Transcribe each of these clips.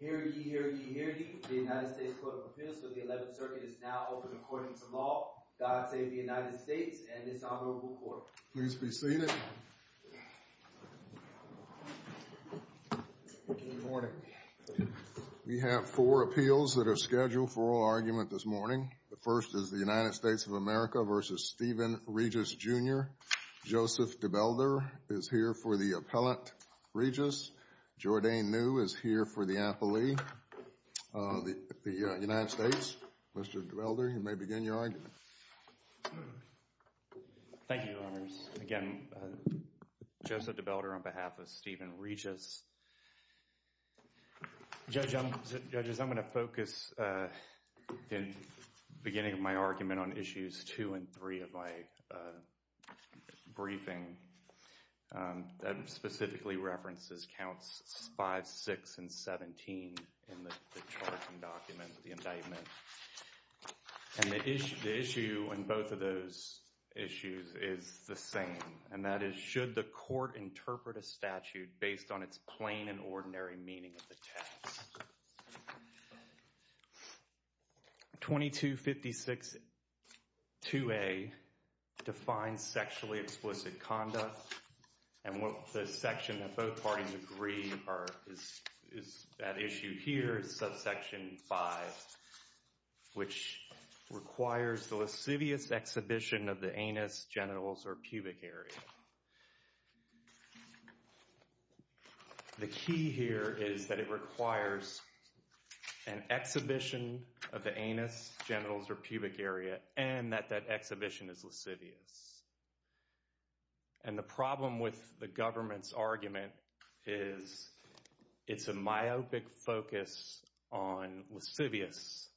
Hear ye, hear ye, hear ye. The United States Court of Appeals for the 11th Circuit is now open according to law. God save the United States and this Honorable Court. Please be seated. Good morning. We have four appeals that are scheduled for oral argument this morning. The first is the United States of America v. Stephen Regis, Jr. Joseph Debelder is here for the appellant, Regis. Jordane New is here for the appellee. The United States, Mr. Debelder, you may begin your argument. Thank you, Your Honors. Again, Joseph Debelder on behalf of Stephen Regis. Judges, I'm going to focus in the beginning of my argument on issues 2 and 3 of my briefing that specifically references counts 5, 6, and 17 in the charging document, the indictment. And the issue in both of those issues is the same. And that is, should the court interpret a statute based on its plain and ordinary meaning of the text? 2256-2A defines sexually explicit conduct. And the section that both parties agree is that issue here, subsection 5, which requires the lascivious exhibition of the anus, genitals, or pubic area. The key here is that it requires an exhibition of the anus, genitals, or pubic area, and that that exhibition is lascivious. And the problem with the government's argument is it's a myopic focus on lascivious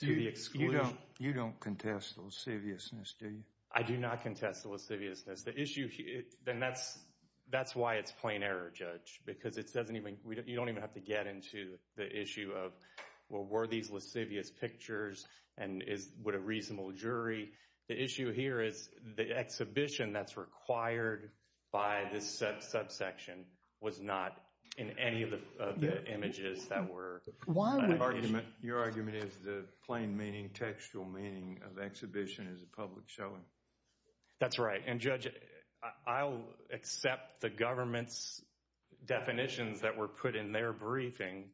to the exclusion. You don't contest the lasciviousness, do you? I do not contest the lasciviousness. Then that's why it's plain error, Judge, because you don't even have to get into the issue of, well, were these lascivious pictures and would a reasonable jury? The issue here is the exhibition that's required by this subsection was not in any of the images that were. Your argument is the plain meaning, textual meaning of exhibition is a public showing. That's right. And, Judge, I'll accept the government's definitions that were put in their briefing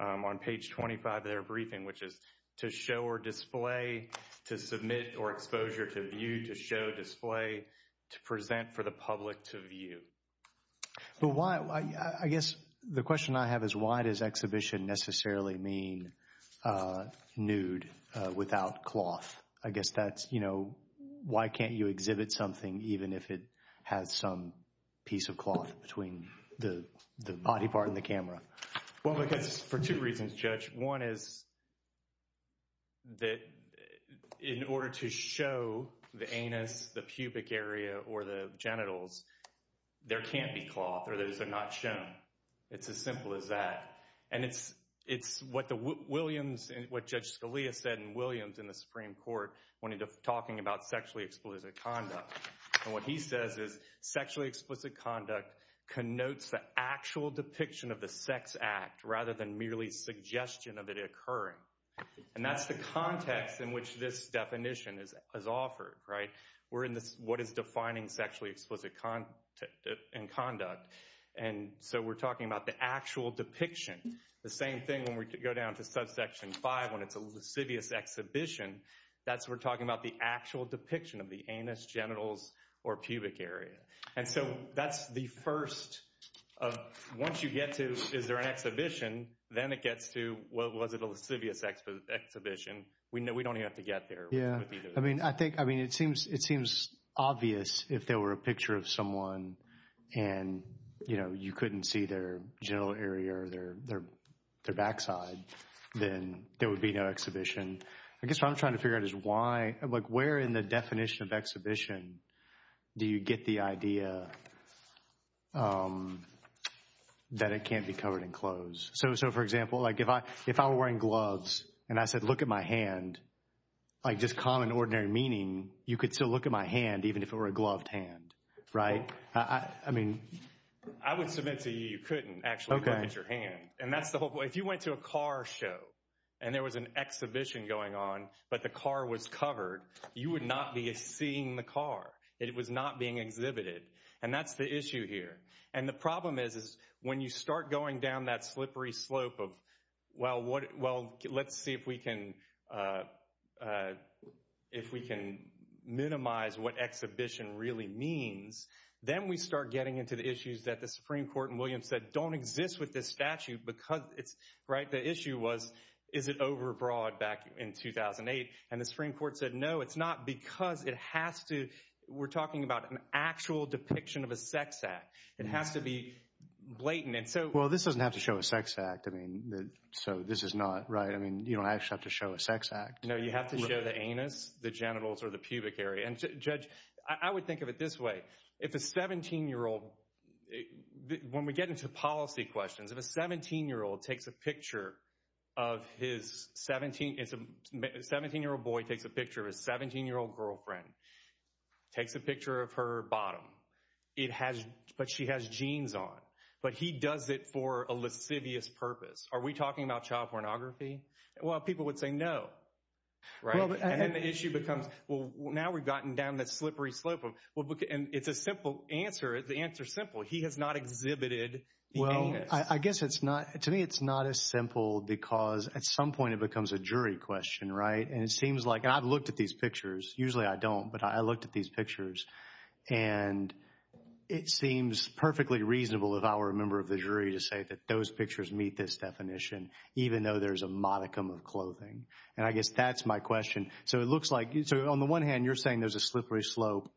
on page 25 of their briefing, which is to show or display, to submit or exposure, to view, to show, display, to present for the public to view. I guess the question I have is why does exhibition necessarily mean nude without cloth? I guess that's, you know, why can't you exhibit something even if it has some piece of cloth between the body part and the camera? Well, I guess for two reasons, Judge. One is that in order to show the anus, the pubic area or the genitals, there can't be cloth or those are not shown. It's as simple as that. And it's what the Williams and what Judge Scalia said in Williams in the Supreme Court when talking about sexually explicit conduct. And what he says is sexually explicit conduct connotes the actual depiction of the sex act rather than merely suggestion of it occurring. And that's the context in which this definition is offered. Right. We're in this. What is defining sexually explicit conduct? And so we're talking about the actual depiction. The same thing when we go down to subsection five when it's a lascivious exhibition. That's we're talking about the actual depiction of the anus, genitals or pubic area. And so that's the first of once you get to, is there an exhibition? Then it gets to, was it a lascivious exhibition? We know we don't have to get there. Yeah, I mean, I think, I mean, it seems it seems obvious if there were a picture of someone and, you know, you couldn't see their genital area or their backside, then there would be no exhibition. I guess what I'm trying to figure out is why, like where in the definition of exhibition do you get the idea that it can't be covered in clothes? So, so, for example, like if I if I were wearing gloves and I said, look at my hand, like just common, ordinary meaning, you could still look at my hand, even if it were a gloved hand. Right. I mean, I would submit to you, you couldn't actually look at your hand. And that's the whole point. If you went to a car show and there was an exhibition going on, but the car was covered, you would not be seeing the car. It was not being exhibited. And that's the issue here. And the problem is, is when you start going down that slippery slope of, well, what? Well, let's see if we can if we can minimize what exhibition really means. Then we start getting into the issues that the Supreme Court and Williams said don't exist with this statute because it's right. The issue was, is it over broad back in 2008? And the Supreme Court said, no, it's not because it has to. We're talking about an actual depiction of a sex act. It has to be blatant. And so, well, this doesn't have to show a sex act. I mean, so this is not right. I mean, you don't actually have to show a sex act. No, you have to show the anus, the genitals or the pubic area. And judge, I would think of it this way. If a 17 year old when we get into policy questions, if a 17 year old takes a picture of his 17, it's a 17 year old boy takes a picture of a 17 year old girlfriend, takes a picture of her bottom. It has. But she has jeans on. But he does it for a lascivious purpose. Are we talking about child pornography? Well, people would say no. Right. And then the issue becomes, well, now we've gotten down that slippery slope. And it's a simple answer. The answer is simple. He has not exhibited. Well, I guess it's not to me. It's not as simple because at some point it becomes a jury question. Right. And it seems like I've looked at these pictures. Usually I don't. But I looked at these pictures and it seems perfectly reasonable. If I were a member of the jury to say that those pictures meet this definition, even though there's a modicum of clothing. And I guess that's my question. So it looks like on the one hand, you're saying there's a slippery slope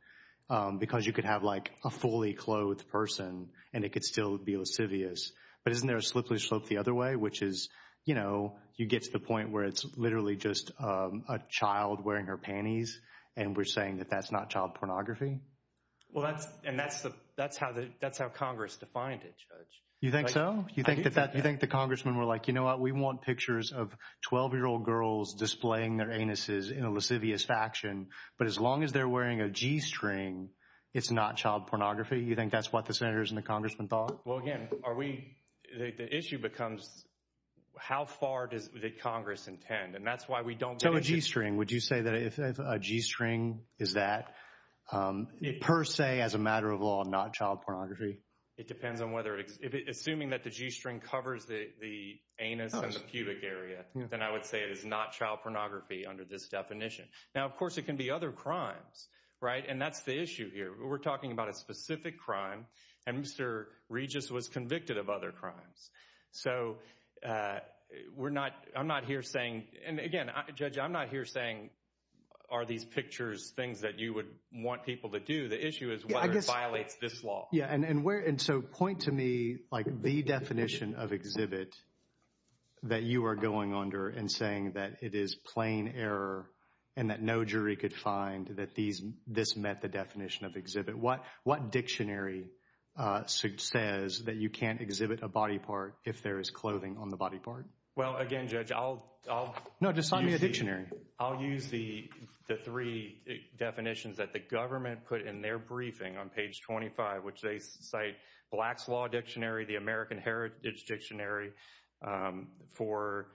because you could have like a fully clothed person and it could still be lascivious. But isn't there a slippery slope the other way, which is, you know, you get to the point where it's literally just a child wearing her panties. And we're saying that that's not child pornography. Well, that's and that's the that's how that's how Congress defined it. You think so? You think that that you think the congressman were like, you know what, we want pictures of 12 year old girls displaying their anuses in a lascivious faction. But as long as they're wearing a G string, it's not child pornography. You think that's what the senators and the congressman thought? Well, again, are we the issue becomes how far does the Congress intend? And that's why we don't. So a G string, would you say that if a G string is that it per se as a matter of law, not child pornography? It depends on whether assuming that the G string covers the anus and the pubic area, then I would say it is not child pornography under this definition. Now, of course, it can be other crimes. Right. And that's the issue here. We're talking about a specific crime. And Mr. Regis was convicted of other crimes. So we're not I'm not here saying. And again, judge, I'm not here saying are these pictures things that you would want people to do? The issue is I guess violates this law. Yeah. And where. And so point to me like the definition of exhibit that you are going under and saying that it is plain error and that no jury could find that these this met the definition of exhibit. What what dictionary says that you can't exhibit a body part if there is clothing on the body part? Well, again, judge, I'll I'll. No, just sign me a dictionary. I'll use the the three definitions that the government put in their briefing on page twenty five, which they cite Black's Law Dictionary, the American Heritage Dictionary for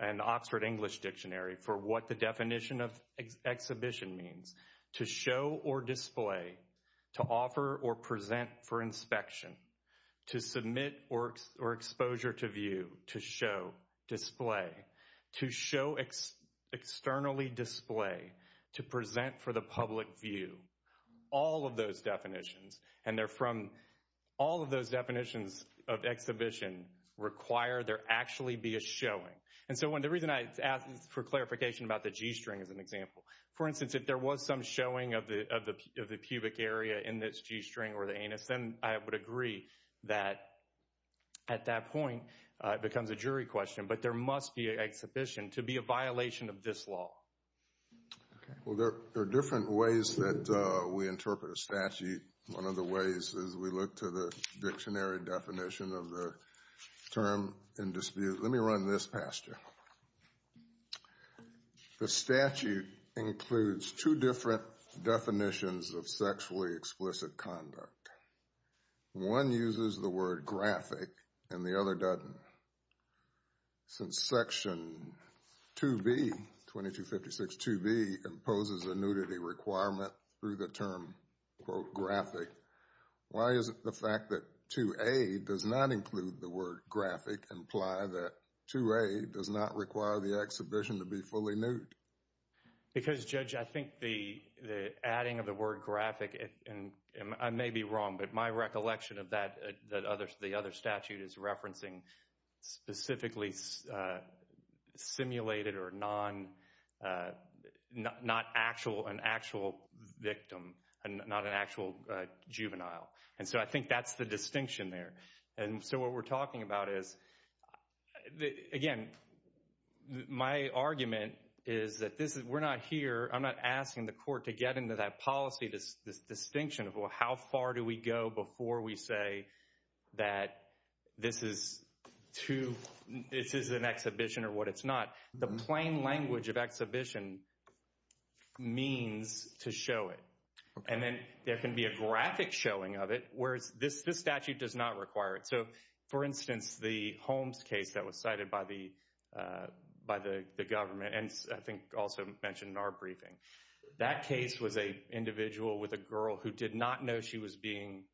an Oxford English Dictionary for what the definition of exhibition means to show or display, to offer or present for inspection, to submit or or exposure to view, to show display, to show externally display, to present for the public view. All of those definitions and they're from all of those definitions of exhibition require there actually be a showing. And so when the reason I ask for clarification about the G string is an example, for instance, if there was some showing of the of the of the pubic area in this G string or the anus, then I would agree that at that point it becomes a jury question. But there must be an exhibition to be a violation of this law. Well, there are different ways that we interpret a statute. One of the ways is we look to the dictionary definition of the term in dispute. Let me run this past you. The statute includes two different definitions of sexually explicit conduct. One uses the word graphic and the other doesn't. Since Section 2B, 2256 2B, imposes a nudity requirement through the term, quote, graphic. Why is it the fact that 2A does not include the word graphic imply that 2A does not require the exhibition to be fully nude? Because, Judge, I think the adding of the word graphic and I may be wrong, but my recollection of that, that other the other statute is referencing specifically simulated or non, not actual an actual victim and not an actual juvenile. And so I think that's the distinction there. And so what we're talking about is, again, my argument is that this is we're not here. I'm not asking the court to get into that policy. This distinction of how far do we go before we say that this is to this is an exhibition or what it's not. The plain language of exhibition means to show it. And then there can be a graphic showing of it, whereas this statute does not require it. So, for instance, the Holmes case that was cited by the by the government and I think also mentioned in our briefing, that case was a individual with a girl who did not know she was being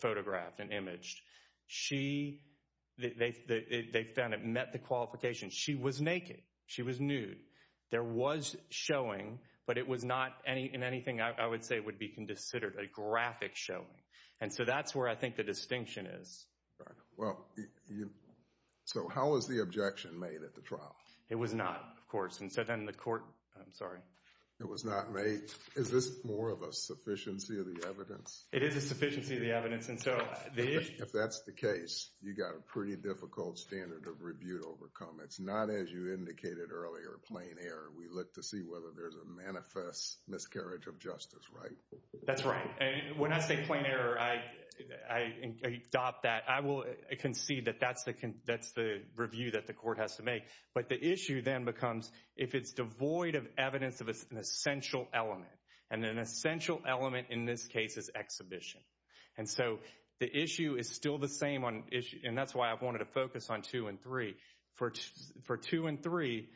photographed and imaged. She they found it met the qualifications. She was naked. She was nude. There was showing, but it was not any in anything I would say would be considered a graphic showing. And so that's where I think the distinction is. Well, so how is the objection made at the trial? It was not, of course. And so then the court. I'm sorry. It was not made. Is this more of a sufficiency of the evidence? It is a sufficiency of the evidence. And so if that's the case, you've got a pretty difficult standard of rebuke overcome. It's not, as you indicated earlier, a plain error. We look to see whether there's a manifest miscarriage of justice. Right. That's right. And when I say plain error, I adopt that. I will concede that that's the that's the review that the court has to make. But the issue then becomes if it's devoid of evidence of an essential element and an essential element in this case is exhibition. And so the issue is still the same on issue. And that's why I've wanted to focus on two and three for two and three.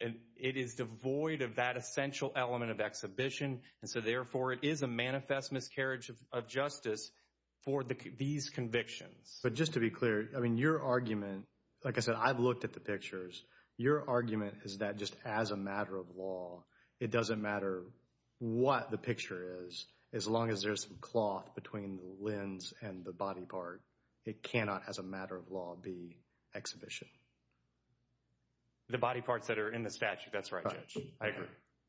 And it is devoid of that essential element of exhibition. And so therefore it is a manifest miscarriage of justice for these convictions. But just to be clear, I mean, your argument, like I said, I've looked at the pictures. Your argument is that just as a matter of law, it doesn't matter what the picture is. As long as there's some cloth between the lens and the body part, it cannot, as a matter of law, be exhibition. The body parts that are in the statute. That's right, Judge. I agree.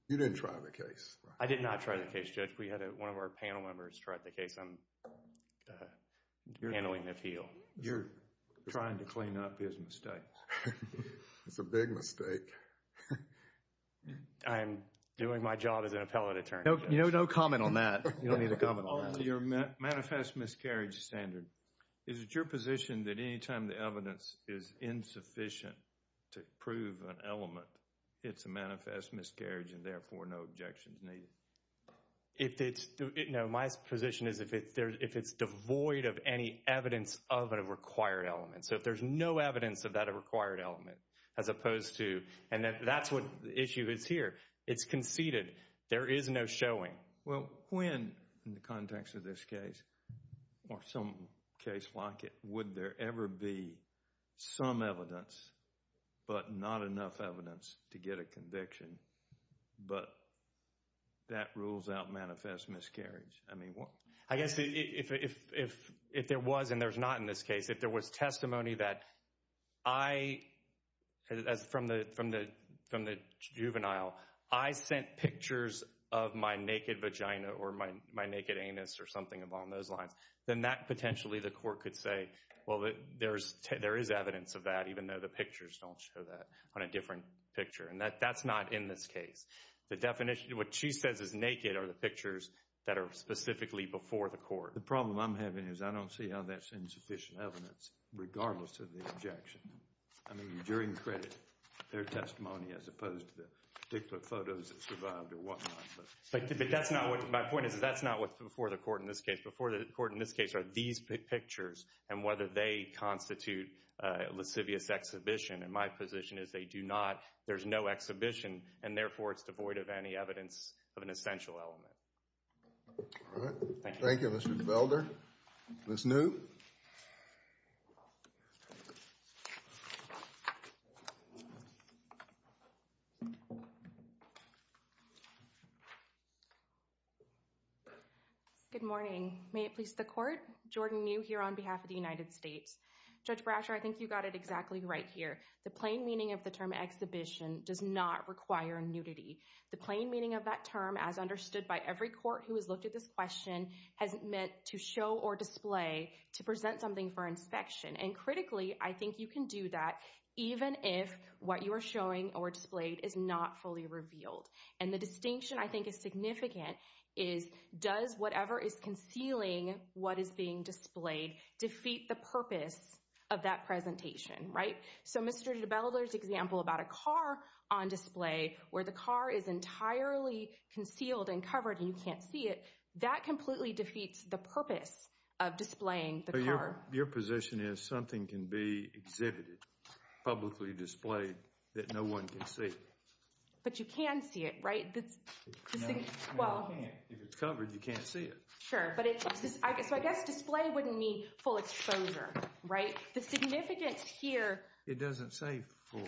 You didn't try the case. I did not try the case, Judge. We had one of our panel members try the case on handling the appeal. You're trying to clean up his mistakes. It's a big mistake. I'm doing my job as an appellate attorney. You know, no comment on that. You don't need a comment on that. Your manifest miscarriage standard. Is it your position that any time the evidence is insufficient to prove an element, it's a manifest miscarriage and therefore no objections needed? No, my position is if it's devoid of any evidence of a required element. So if there's no evidence of that required element, as opposed to, and that's what the issue is here. It's conceded. There is no showing. Well, when, in the context of this case, or some case like it, would there ever be some evidence but not enough evidence to get a conviction? But that rules out manifest miscarriage. I guess if there was, and there's not in this case, if there was testimony that I, from the juvenile, I sent pictures of my naked vagina or my naked anus or something along those lines, then that potentially the court could say, well, there is evidence of that, even though the pictures don't show that on a different picture. And that's not in this case. The definition, what she says is naked are the pictures that are specifically before the court. The problem I'm having is I don't see how that's insufficient evidence, regardless of the objection. I mean, during credit, their testimony as opposed to the particular photos that survived or whatnot. But that's not what, my point is that's not what's before the court in this case. Before the court in this case are these pictures and whether they constitute lascivious exhibition. And my position is they do not. There's no exhibition. And therefore, it's devoid of any evidence of an essential element. All right. Thank you. Thank you, Mr. Belder. Ms. New. Good morning. May it please the court. Jordan New here on behalf of the United States. Judge Brasher, I think you got it exactly right here. The plain meaning of the term exhibition does not require nudity. The plain meaning of that term, as understood by every court who has looked at this question, has meant to show or display to present something for inspection. And critically, I think you can do that even if what you are showing or displayed is not fully revealed. And the distinction I think is significant is does whatever is concealing what is being displayed defeat the purpose of that presentation. Right? So Mr. Belder's example about a car on display where the car is entirely concealed and covered and you can't see it, that completely defeats the purpose of displaying the car. Your position is something can be exhibited, publicly displayed, that no one can see. But you can see it, right? If it's covered, you can't see it. Sure. So I guess display wouldn't mean full exposure. Right? The significance here. It doesn't say full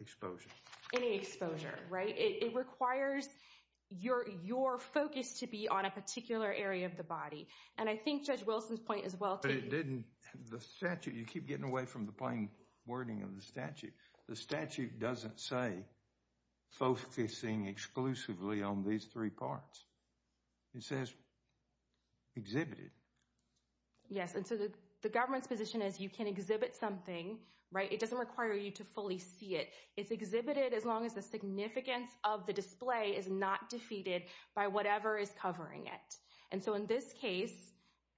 exposure. Any exposure. Right? It requires your focus to be on a particular area of the body. And I think Judge Wilson's point is well taken. But it didn't. The statute, you keep getting away from the plain wording of the statute. The statute doesn't say focusing exclusively on these three parts. It says exhibited. Yes. And so the government's position is you can exhibit something. Right? It doesn't require you to fully see it. It's exhibited as long as the significance of the display is not defeated by whatever is covering it. And so in this case,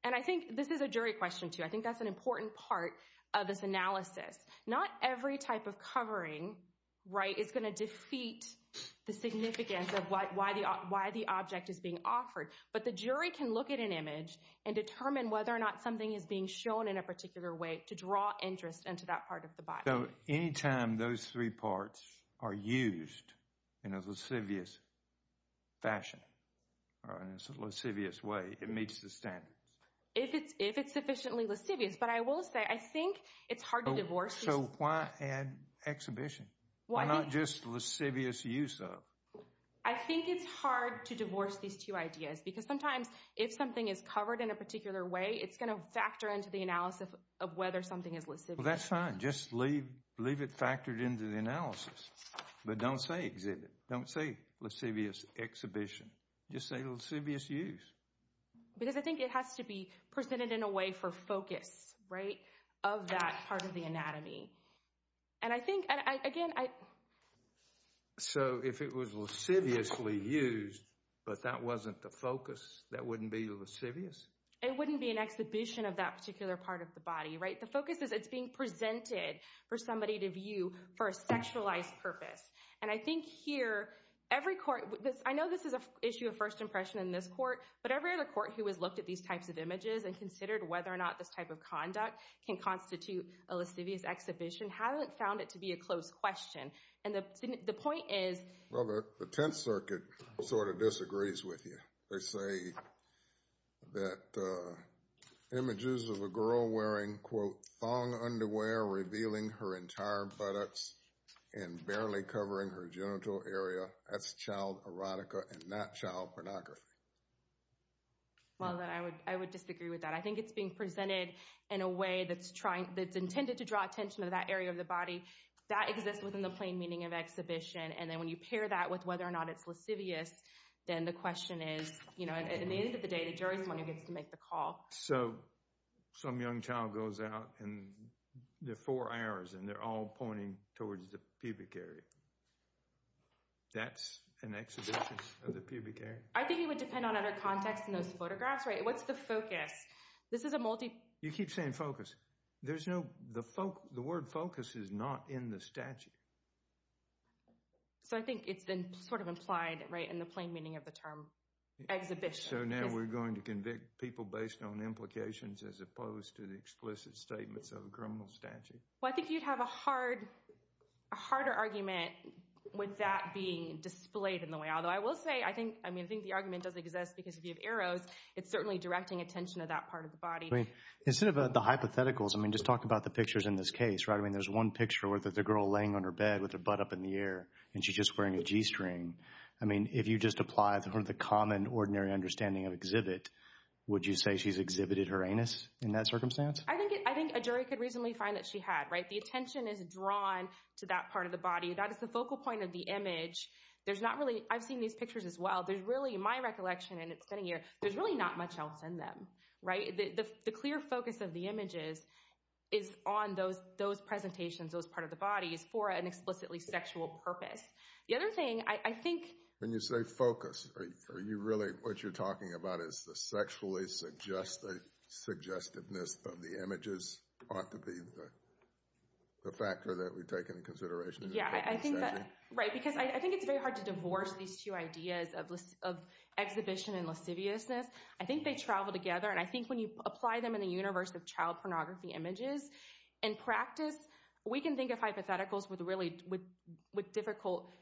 and I think this is a jury question, too. I think that's an important part of this analysis. Not every type of covering, right, is going to defeat the significance of why the object is being offered. But the jury can look at an image and determine whether or not something is being shown in a particular way to draw interest into that part of the body. So anytime those three parts are used in a lascivious fashion or in a lascivious way, it meets the standards. If it's sufficiently lascivious. But I will say, I think it's hard to divorce. So why add exhibition? Why not just lascivious use of? I think it's hard to divorce these two ideas. Because sometimes if something is covered in a particular way, it's going to factor into the analysis of whether something is lascivious. That's fine. Just leave it factored into the analysis. But don't say exhibit. Don't say lascivious exhibition. Just say lascivious use. Because I think it has to be presented in a way for focus, right, of that part of the anatomy. And I think, again, I... So if it was lasciviously used, but that wasn't the focus, that wouldn't be lascivious? It wouldn't be an exhibition of that particular part of the body, right? The focus is it's being presented for somebody to view for a sexualized purpose. And I think here every court, I know this is an issue of first impression in this court, but every other court who has looked at these types of images and considered whether or not this type of conduct can constitute a lascivious exhibition, haven't found it to be a closed question. And the point is... Well, the Tenth Circuit sort of disagrees with you. They say that images of a girl wearing, quote, thong underwear revealing her entire buttocks and barely covering her genital area, that's child erotica and not child pornography. Well, I would disagree with that. I think it's being presented in a way that's intended to draw attention to that area of the body. That exists within the plain meaning of exhibition. And then when you pair that with whether or not it's lascivious, then the question is, you know, at the end of the day, the jury is the one who gets to make the call. So some young child goes out and there are four hours and they're all pointing towards the pubic area. That's an exhibition of the pubic area? I think it would depend on other contexts in those photographs, right? What's the focus? This is a multi... You keep saying focus. The word focus is not in the statute. So I think it's been sort of implied, right, in the plain meaning of the term exhibition. So now we're going to convict people based on implications as opposed to the explicit statements of a criminal statute. Well, I think you'd have a harder argument with that being displayed in the way. Although I will say I think the argument does exist because if you have arrows, it's certainly directing attention to that part of the body. Instead of the hypotheticals, I mean, just talk about the pictures in this case, right? I mean, there's one picture where there's a girl laying on her bed with her butt up in the air and she's just wearing a G-string. I mean, if you just apply the common, ordinary understanding of exhibit, would you say she's exhibited her anus in that circumstance? I think a jury could reasonably find that she had, right? The attention is drawn to that part of the body. That is the focal point of the image. There's not really... I've seen these pictures as well. There's really, in my recollection, and it's been a year, there's really not much else in them, right? The clear focus of the images is on those presentations, those part of the bodies, for an explicitly sexual purpose. The other thing, I think... When you say focus, are you really... What you're talking about is the sexually suggestiveness of the images ought to be the factor that we take into consideration? Yeah, I think that... Right, because I think it's very hard to divorce these two ideas of exhibition and lasciviousness. I think they travel together, and I think when you apply them in the universe of child pornography images and practice, we can think of hypotheticals with difficult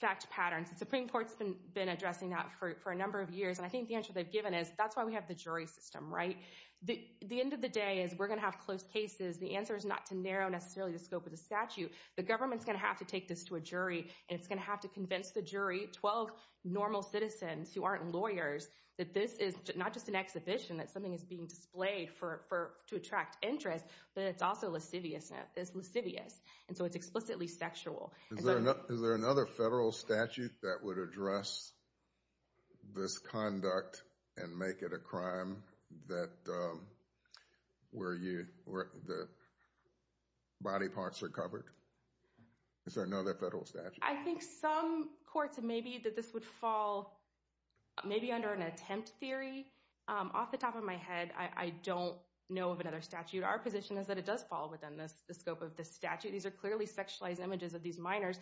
fact patterns. The Supreme Court's been addressing that for a number of years, and I think the answer they've given is that's why we have the jury system, right? The end of the day is we're going to have close cases. The answer is not to narrow, necessarily, the scope of the statute. The government's going to have to take this to a jury, and it's going to have to convince the jury. 12 normal citizens who aren't lawyers that this is not just an exhibition, that something is being displayed to attract interest, but it's also lasciviousness. It's lascivious, and so it's explicitly sexual. Is there another federal statute that would address this conduct and make it a crime where the body parts are covered? Is there another federal statute? I think some courts may be that this would fall maybe under an attempt theory. Off the top of my head, I don't know of another statute. Our position is that it does fall within the scope of the statute. These are clearly sexualized images of these minors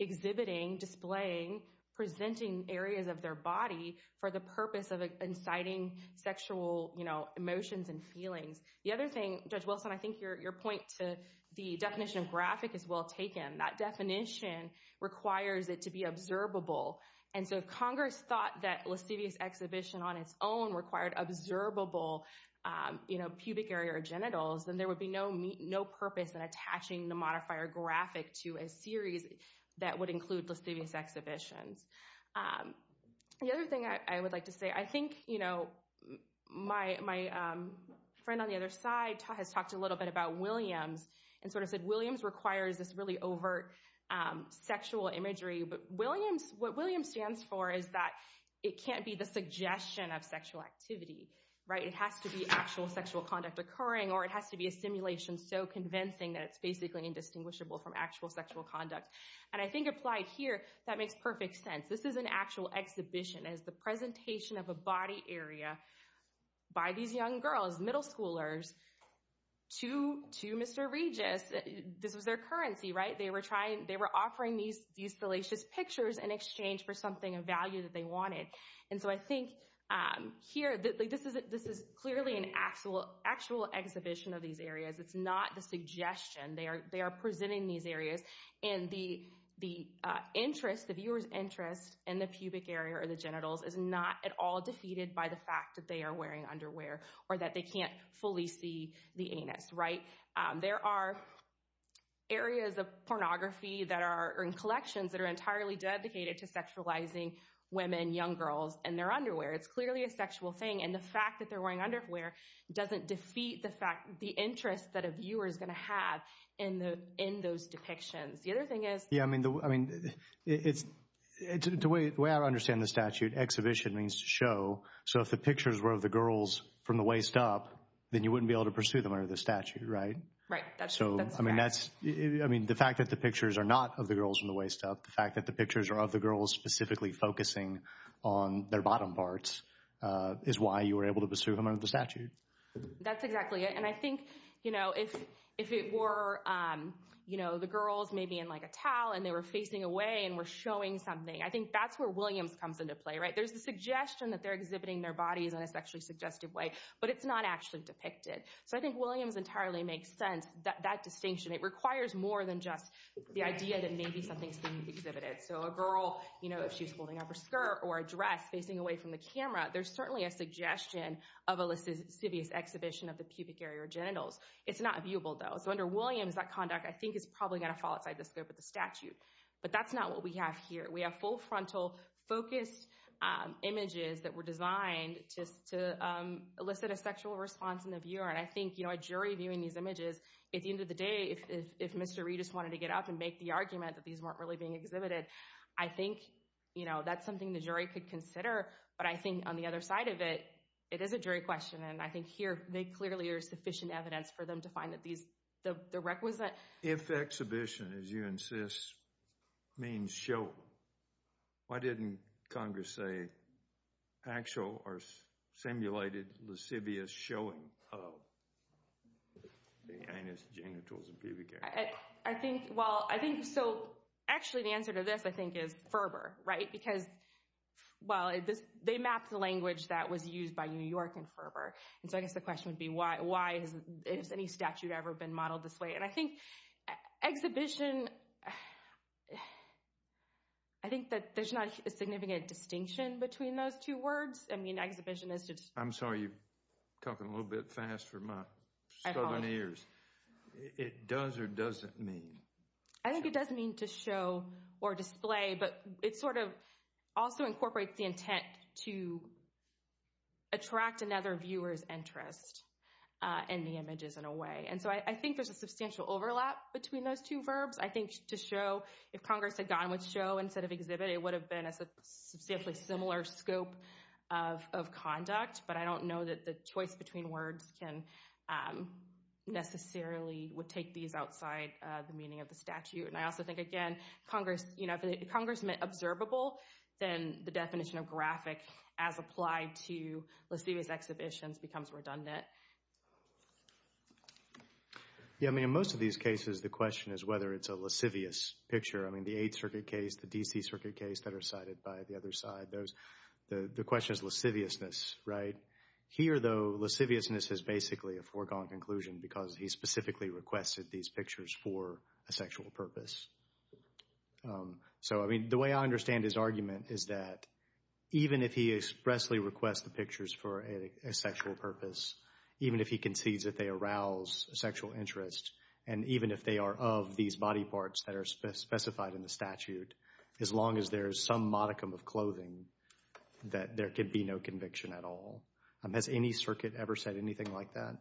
exhibiting, displaying, presenting areas of their body for the purpose of inciting sexual emotions and feelings. The other thing, Judge Wilson, I think your point to the definition of graphic is well taken. That definition requires it to be observable. And so if Congress thought that lascivious exhibition on its own required observable pubic area or genitals, then there would be no purpose in attaching the modifier graphic to a series that would include lascivious exhibitions. The other thing I would like to say, I think my friend on the other side has talked a little bit about Williams and sort of said Williams requires this really overt sexual imagery. But what Williams stands for is that it can't be the suggestion of sexual activity. It has to be actual sexual conduct occurring or it has to be a simulation so convincing that it's basically indistinguishable from actual sexual conduct. And I think applied here, that makes perfect sense. This is an actual exhibition as the presentation of a body area by these young girls, middle schoolers, to Mr. Regis. This was their currency, right? They were offering these salacious pictures in exchange for something of value that they wanted. And so I think here, this is clearly an actual exhibition of these areas. It's not the suggestion. They are presenting these areas. And the interest, the viewer's interest in the pubic area or the genitals is not at all defeated by the fact that they are wearing underwear or that they can't fully see the anus, right? There are areas of pornography that are in collections that are entirely dedicated to sexualizing women, young girls, and their underwear. It's clearly a sexual thing. And the fact that they're wearing underwear doesn't defeat the interest that a viewer is going to have in those depictions. The other thing is— Yeah, I mean, the way I understand the statute, exhibition means to show. So if the pictures were of the girls from the waist up, then you wouldn't be able to pursue them under the statute, right? Right, that's correct. I mean, the fact that the pictures are not of the girls from the waist up, the fact that the pictures are of the girls specifically focusing on their bottom parts is why you were able to pursue them under the statute. That's exactly it. And I think, you know, if it were, you know, the girls maybe in like a towel and they were facing away and were showing something, I think that's where Williams comes into play, right? There's the suggestion that they're exhibiting their bodies in a sexually suggestive way, but it's not actually depicted. So I think Williams entirely makes sense, that distinction. It requires more than just the idea that maybe something's being exhibited. So a girl, you know, if she's holding up her skirt or a dress facing away from the camera, there's certainly a suggestion of a lascivious exhibition of the pubic area or genitals. It's not viewable, though. So under Williams, that conduct, I think, is probably going to fall outside the scope of the statute. But that's not what we have here. We have full frontal focused images that were designed just to elicit a sexual response in the viewer. And I think, you know, a jury viewing these images, at the end of the day, if Mr. Reedus wanted to get up and make the argument that these weren't really being exhibited, I think, you know, that's something the jury could consider. But I think on the other side of it, it is a jury question. And I think here they clearly are sufficient evidence for them to find that these, the requisite. If exhibition, as you insist, means show, why didn't Congress say actual or simulated lascivious showing of the anus, genitals, and pubic area? I think, well, I think so. Actually, the answer to this, I think, is fervor, right? Because, well, they mapped the language that was used by New York in fervor. And so I guess the question would be, why? Has any statute ever been modeled this way? And I think exhibition, I think that there's not a significant distinction between those two words. I mean, exhibition is just— I'm sorry, you're talking a little bit fast for my struggling ears. It does or doesn't mean? I think it does mean to show or display, but it sort of also incorporates the intent to attract another viewer's interest in the images in a way. And so I think there's a substantial overlap between those two verbs. I think to show, if Congress had gone with show instead of exhibit, it would have been a substantially similar scope of conduct. But I don't know that the choice between words can necessarily—would take these outside the meaning of the statute. And I also think, again, if Congress meant observable, then the definition of graphic as applied to lascivious exhibitions becomes redundant. Yeah, I mean, in most of these cases, the question is whether it's a lascivious picture. I mean, the Eighth Circuit case, the D.C. Circuit case that are cited by the other side, the question is lasciviousness, right? Here, though, lasciviousness is basically a foregone conclusion because he specifically requested these pictures for a sexual purpose. So, I mean, the way I understand his argument is that even if he expressly requests the pictures for a sexual purpose, even if he concedes that they arouse a sexual interest, and even if they are of these body parts that are specified in the statute, as long as there is some modicum of clothing, that there could be no conviction at all. Has any circuit ever said anything like that?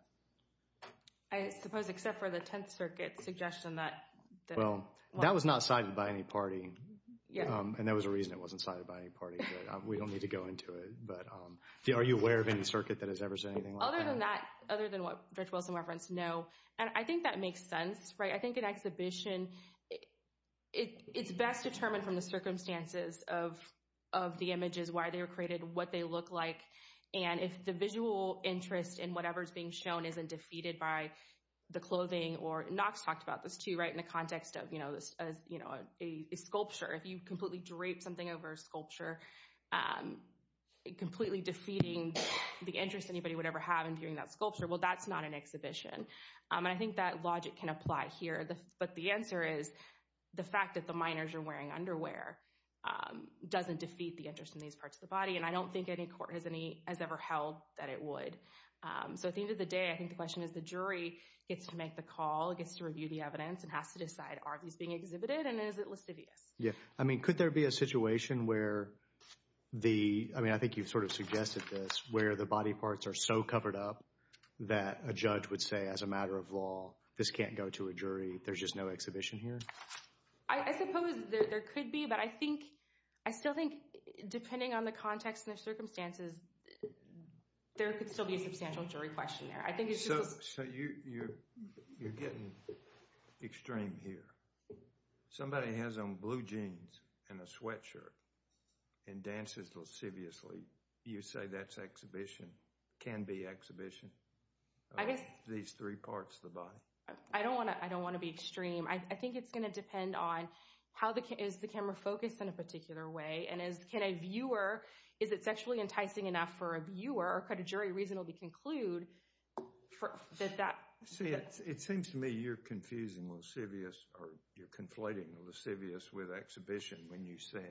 I suppose except for the Tenth Circuit suggestion that— Well, that was not cited by any party, and there was a reason it wasn't cited by any party. We don't need to go into it, but are you aware of any circuit that has ever said anything like that? Other than that, other than what Judge Wilson referenced, no. And I think that makes sense, right? I think an exhibition, it's best determined from the circumstances of the images, why they were created, what they look like, and if the visual interest in whatever is being shown isn't defeated by the clothing or— Knox talked about this, too, right, in the context of, you know, a sculpture. If you completely drape something over a sculpture, completely defeating the interest anybody would ever have in viewing that sculpture, well, that's not an exhibition. And I think that logic can apply here, but the answer is the fact that the minors are wearing underwear doesn't defeat the interest in these parts of the body, and I don't think any court has ever held that it would. So at the end of the day, I think the question is the jury gets to make the call, gets to review the evidence, and has to decide, are these being exhibited, and is it lascivious? Yeah. I mean, could there be a situation where the— I think you've sort of suggested this, where the body parts are so covered up that a judge would say, as a matter of law, this can't go to a jury, there's just no exhibition here? I suppose there could be, but I think—I still think, depending on the context and the circumstances, there could still be a substantial jury question there. I think it's just— So you're getting extreme here. Somebody has on blue jeans and a sweatshirt and dances lasciviously. You say that's exhibition, can be exhibition of these three parts of the body? I don't want to be extreme. I think it's going to depend on how the—is the camera focused in a particular way, and can a viewer—is it sexually enticing enough for a viewer, or could a jury reasonably conclude that that— See, it seems to me you're confusing lascivious, or you're conflating lascivious with exhibition when you say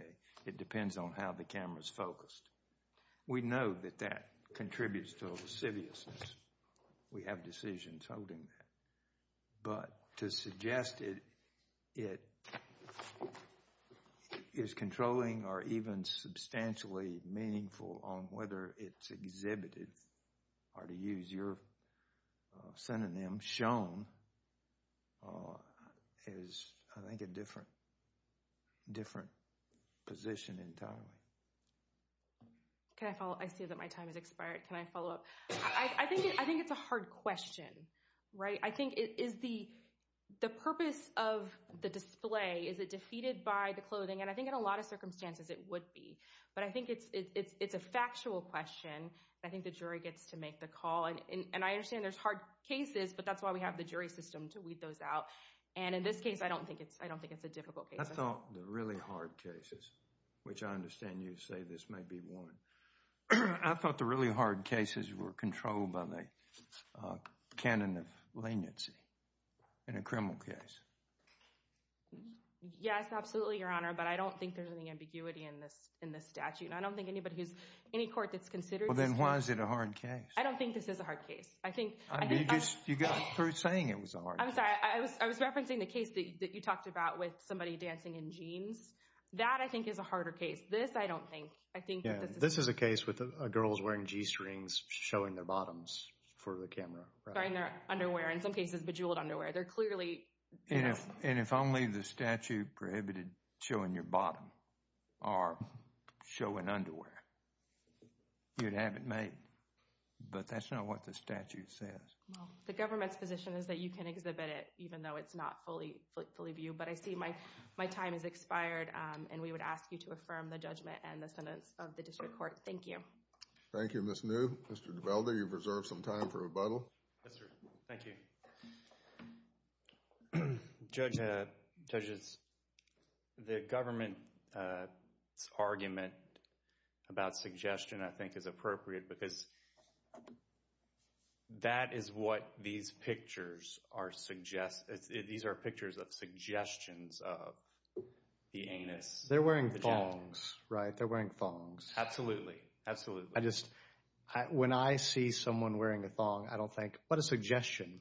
it depends on how the camera's focused. We know that that contributes to lasciviousness. We have decisions holding that. But to suggest it is controlling or even substantially meaningful on whether it's exhibited, or to use your synonym, shown, is I think a different position entirely. Can I follow? I see that my time has expired. Can I follow up? I think it's a hard question, right? I think is the purpose of the display, is it defeated by the clothing? And I think in a lot of circumstances it would be. But I think it's a factual question. I think the jury gets to make the call. And I understand there's hard cases, but that's why we have the jury system to weed those out. And in this case, I don't think it's a difficult case. I thought the really hard cases, which I understand you say this may be one, I thought the really hard cases were controlled by the canon of leniency in a criminal case. Yes, absolutely, Your Honor. But I don't think there's any ambiguity in this statute. And I don't think anybody who's—any court that's considered this— Well, then why is it a hard case? I don't think this is a hard case. I think— You got through saying it was a hard case. I'm sorry. I was referencing the case that you talked about with somebody dancing in jeans. That, I think, is a harder case. This, I don't think. I think that this is— This is a case with girls wearing G-strings showing their bottoms for the camera, right? Wearing their underwear, in some cases bejeweled underwear. They're clearly— And if only the statute prohibited showing your bottom or showing underwear, you'd have it made. But that's not what the statute says. Well, the government's position is that you can exhibit it even though it's not fully viewed. But I see my time has expired. And we would ask you to affirm the judgment and the sentence of the district court. Thank you. Thank you, Ms. New. Mr. Dibeldi, you've reserved some time for rebuttal. Yes, sir. Thank you. Judge, the government's argument about suggestion, I think, is appropriate because that is what these pictures are suggesting. These are pictures of suggestions of the anus. They're wearing thongs, right? They're wearing thongs. Absolutely. Absolutely. When I see someone wearing a thong, I don't think, what a suggestion.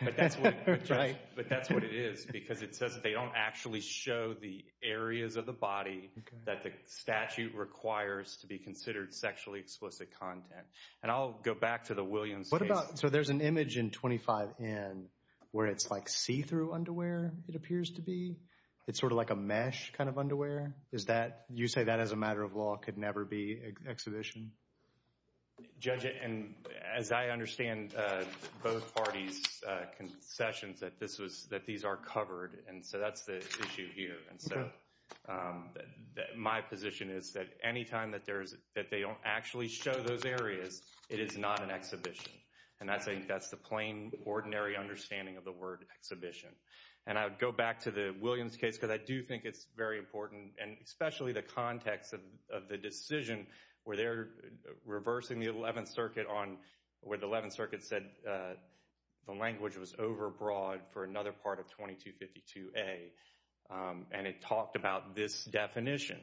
But that's what it is because it says they don't actually show the areas of the body that the statute requires to be considered sexually explicit content. And I'll go back to the Williams case. So there's an image in 25N where it's like see-through underwear, it appears to be. It's sort of like a mesh kind of underwear. You say that, as a matter of law, could never be exhibition? Judge, as I understand both parties' concessions, that these are covered. And so that's the issue here. And so my position is that anytime that they don't actually show those areas, it is not an exhibition. And I think that's the plain, ordinary understanding of the word exhibition. And I would go back to the Williams case because I do think it's very important, and especially the context of the decision where they're reversing the 11th Circuit where the 11th Circuit said the language was overbroad for another part of 2252A. And it talked about this definition.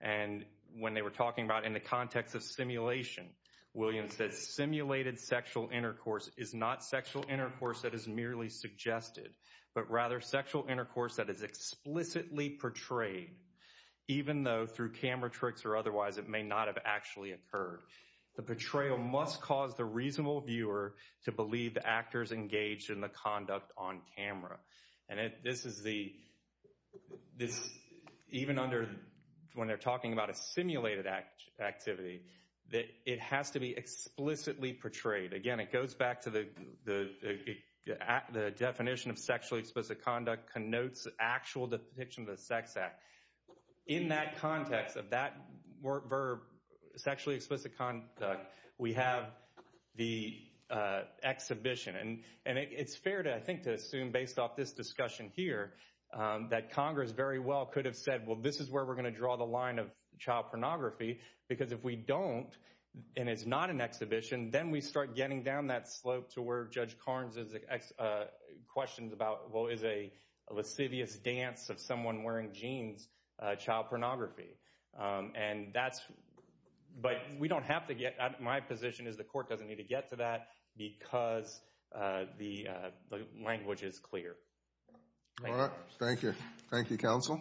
And when they were talking about in the context of simulation, Williams said simulated sexual intercourse is not sexual intercourse that is merely suggested, but rather sexual intercourse that is explicitly portrayed, even though through camera tricks or otherwise it may not have actually occurred. The portrayal must cause the reasonable viewer to believe the actor is engaged in the conduct on camera. And this is the—even under when they're talking about a simulated activity, it has to be explicitly portrayed. Again, it goes back to the definition of sexually explicit conduct connotes actual depiction of the sex act. In that context of that verb, sexually explicit conduct, we have the exhibition. And it's fair, I think, to assume based off this discussion here that Congress very well could have said, well, this is where we're going to draw the line of child pornography, because if we don't and it's not an exhibition, then we start getting down that slope to where Judge Carnes' questions about, well, is a lascivious dance of someone wearing jeans child pornography? And that's—but we don't have to get—my position is the court doesn't need to get to that because the language is clear. All right. Thank you. Thank you, counsel.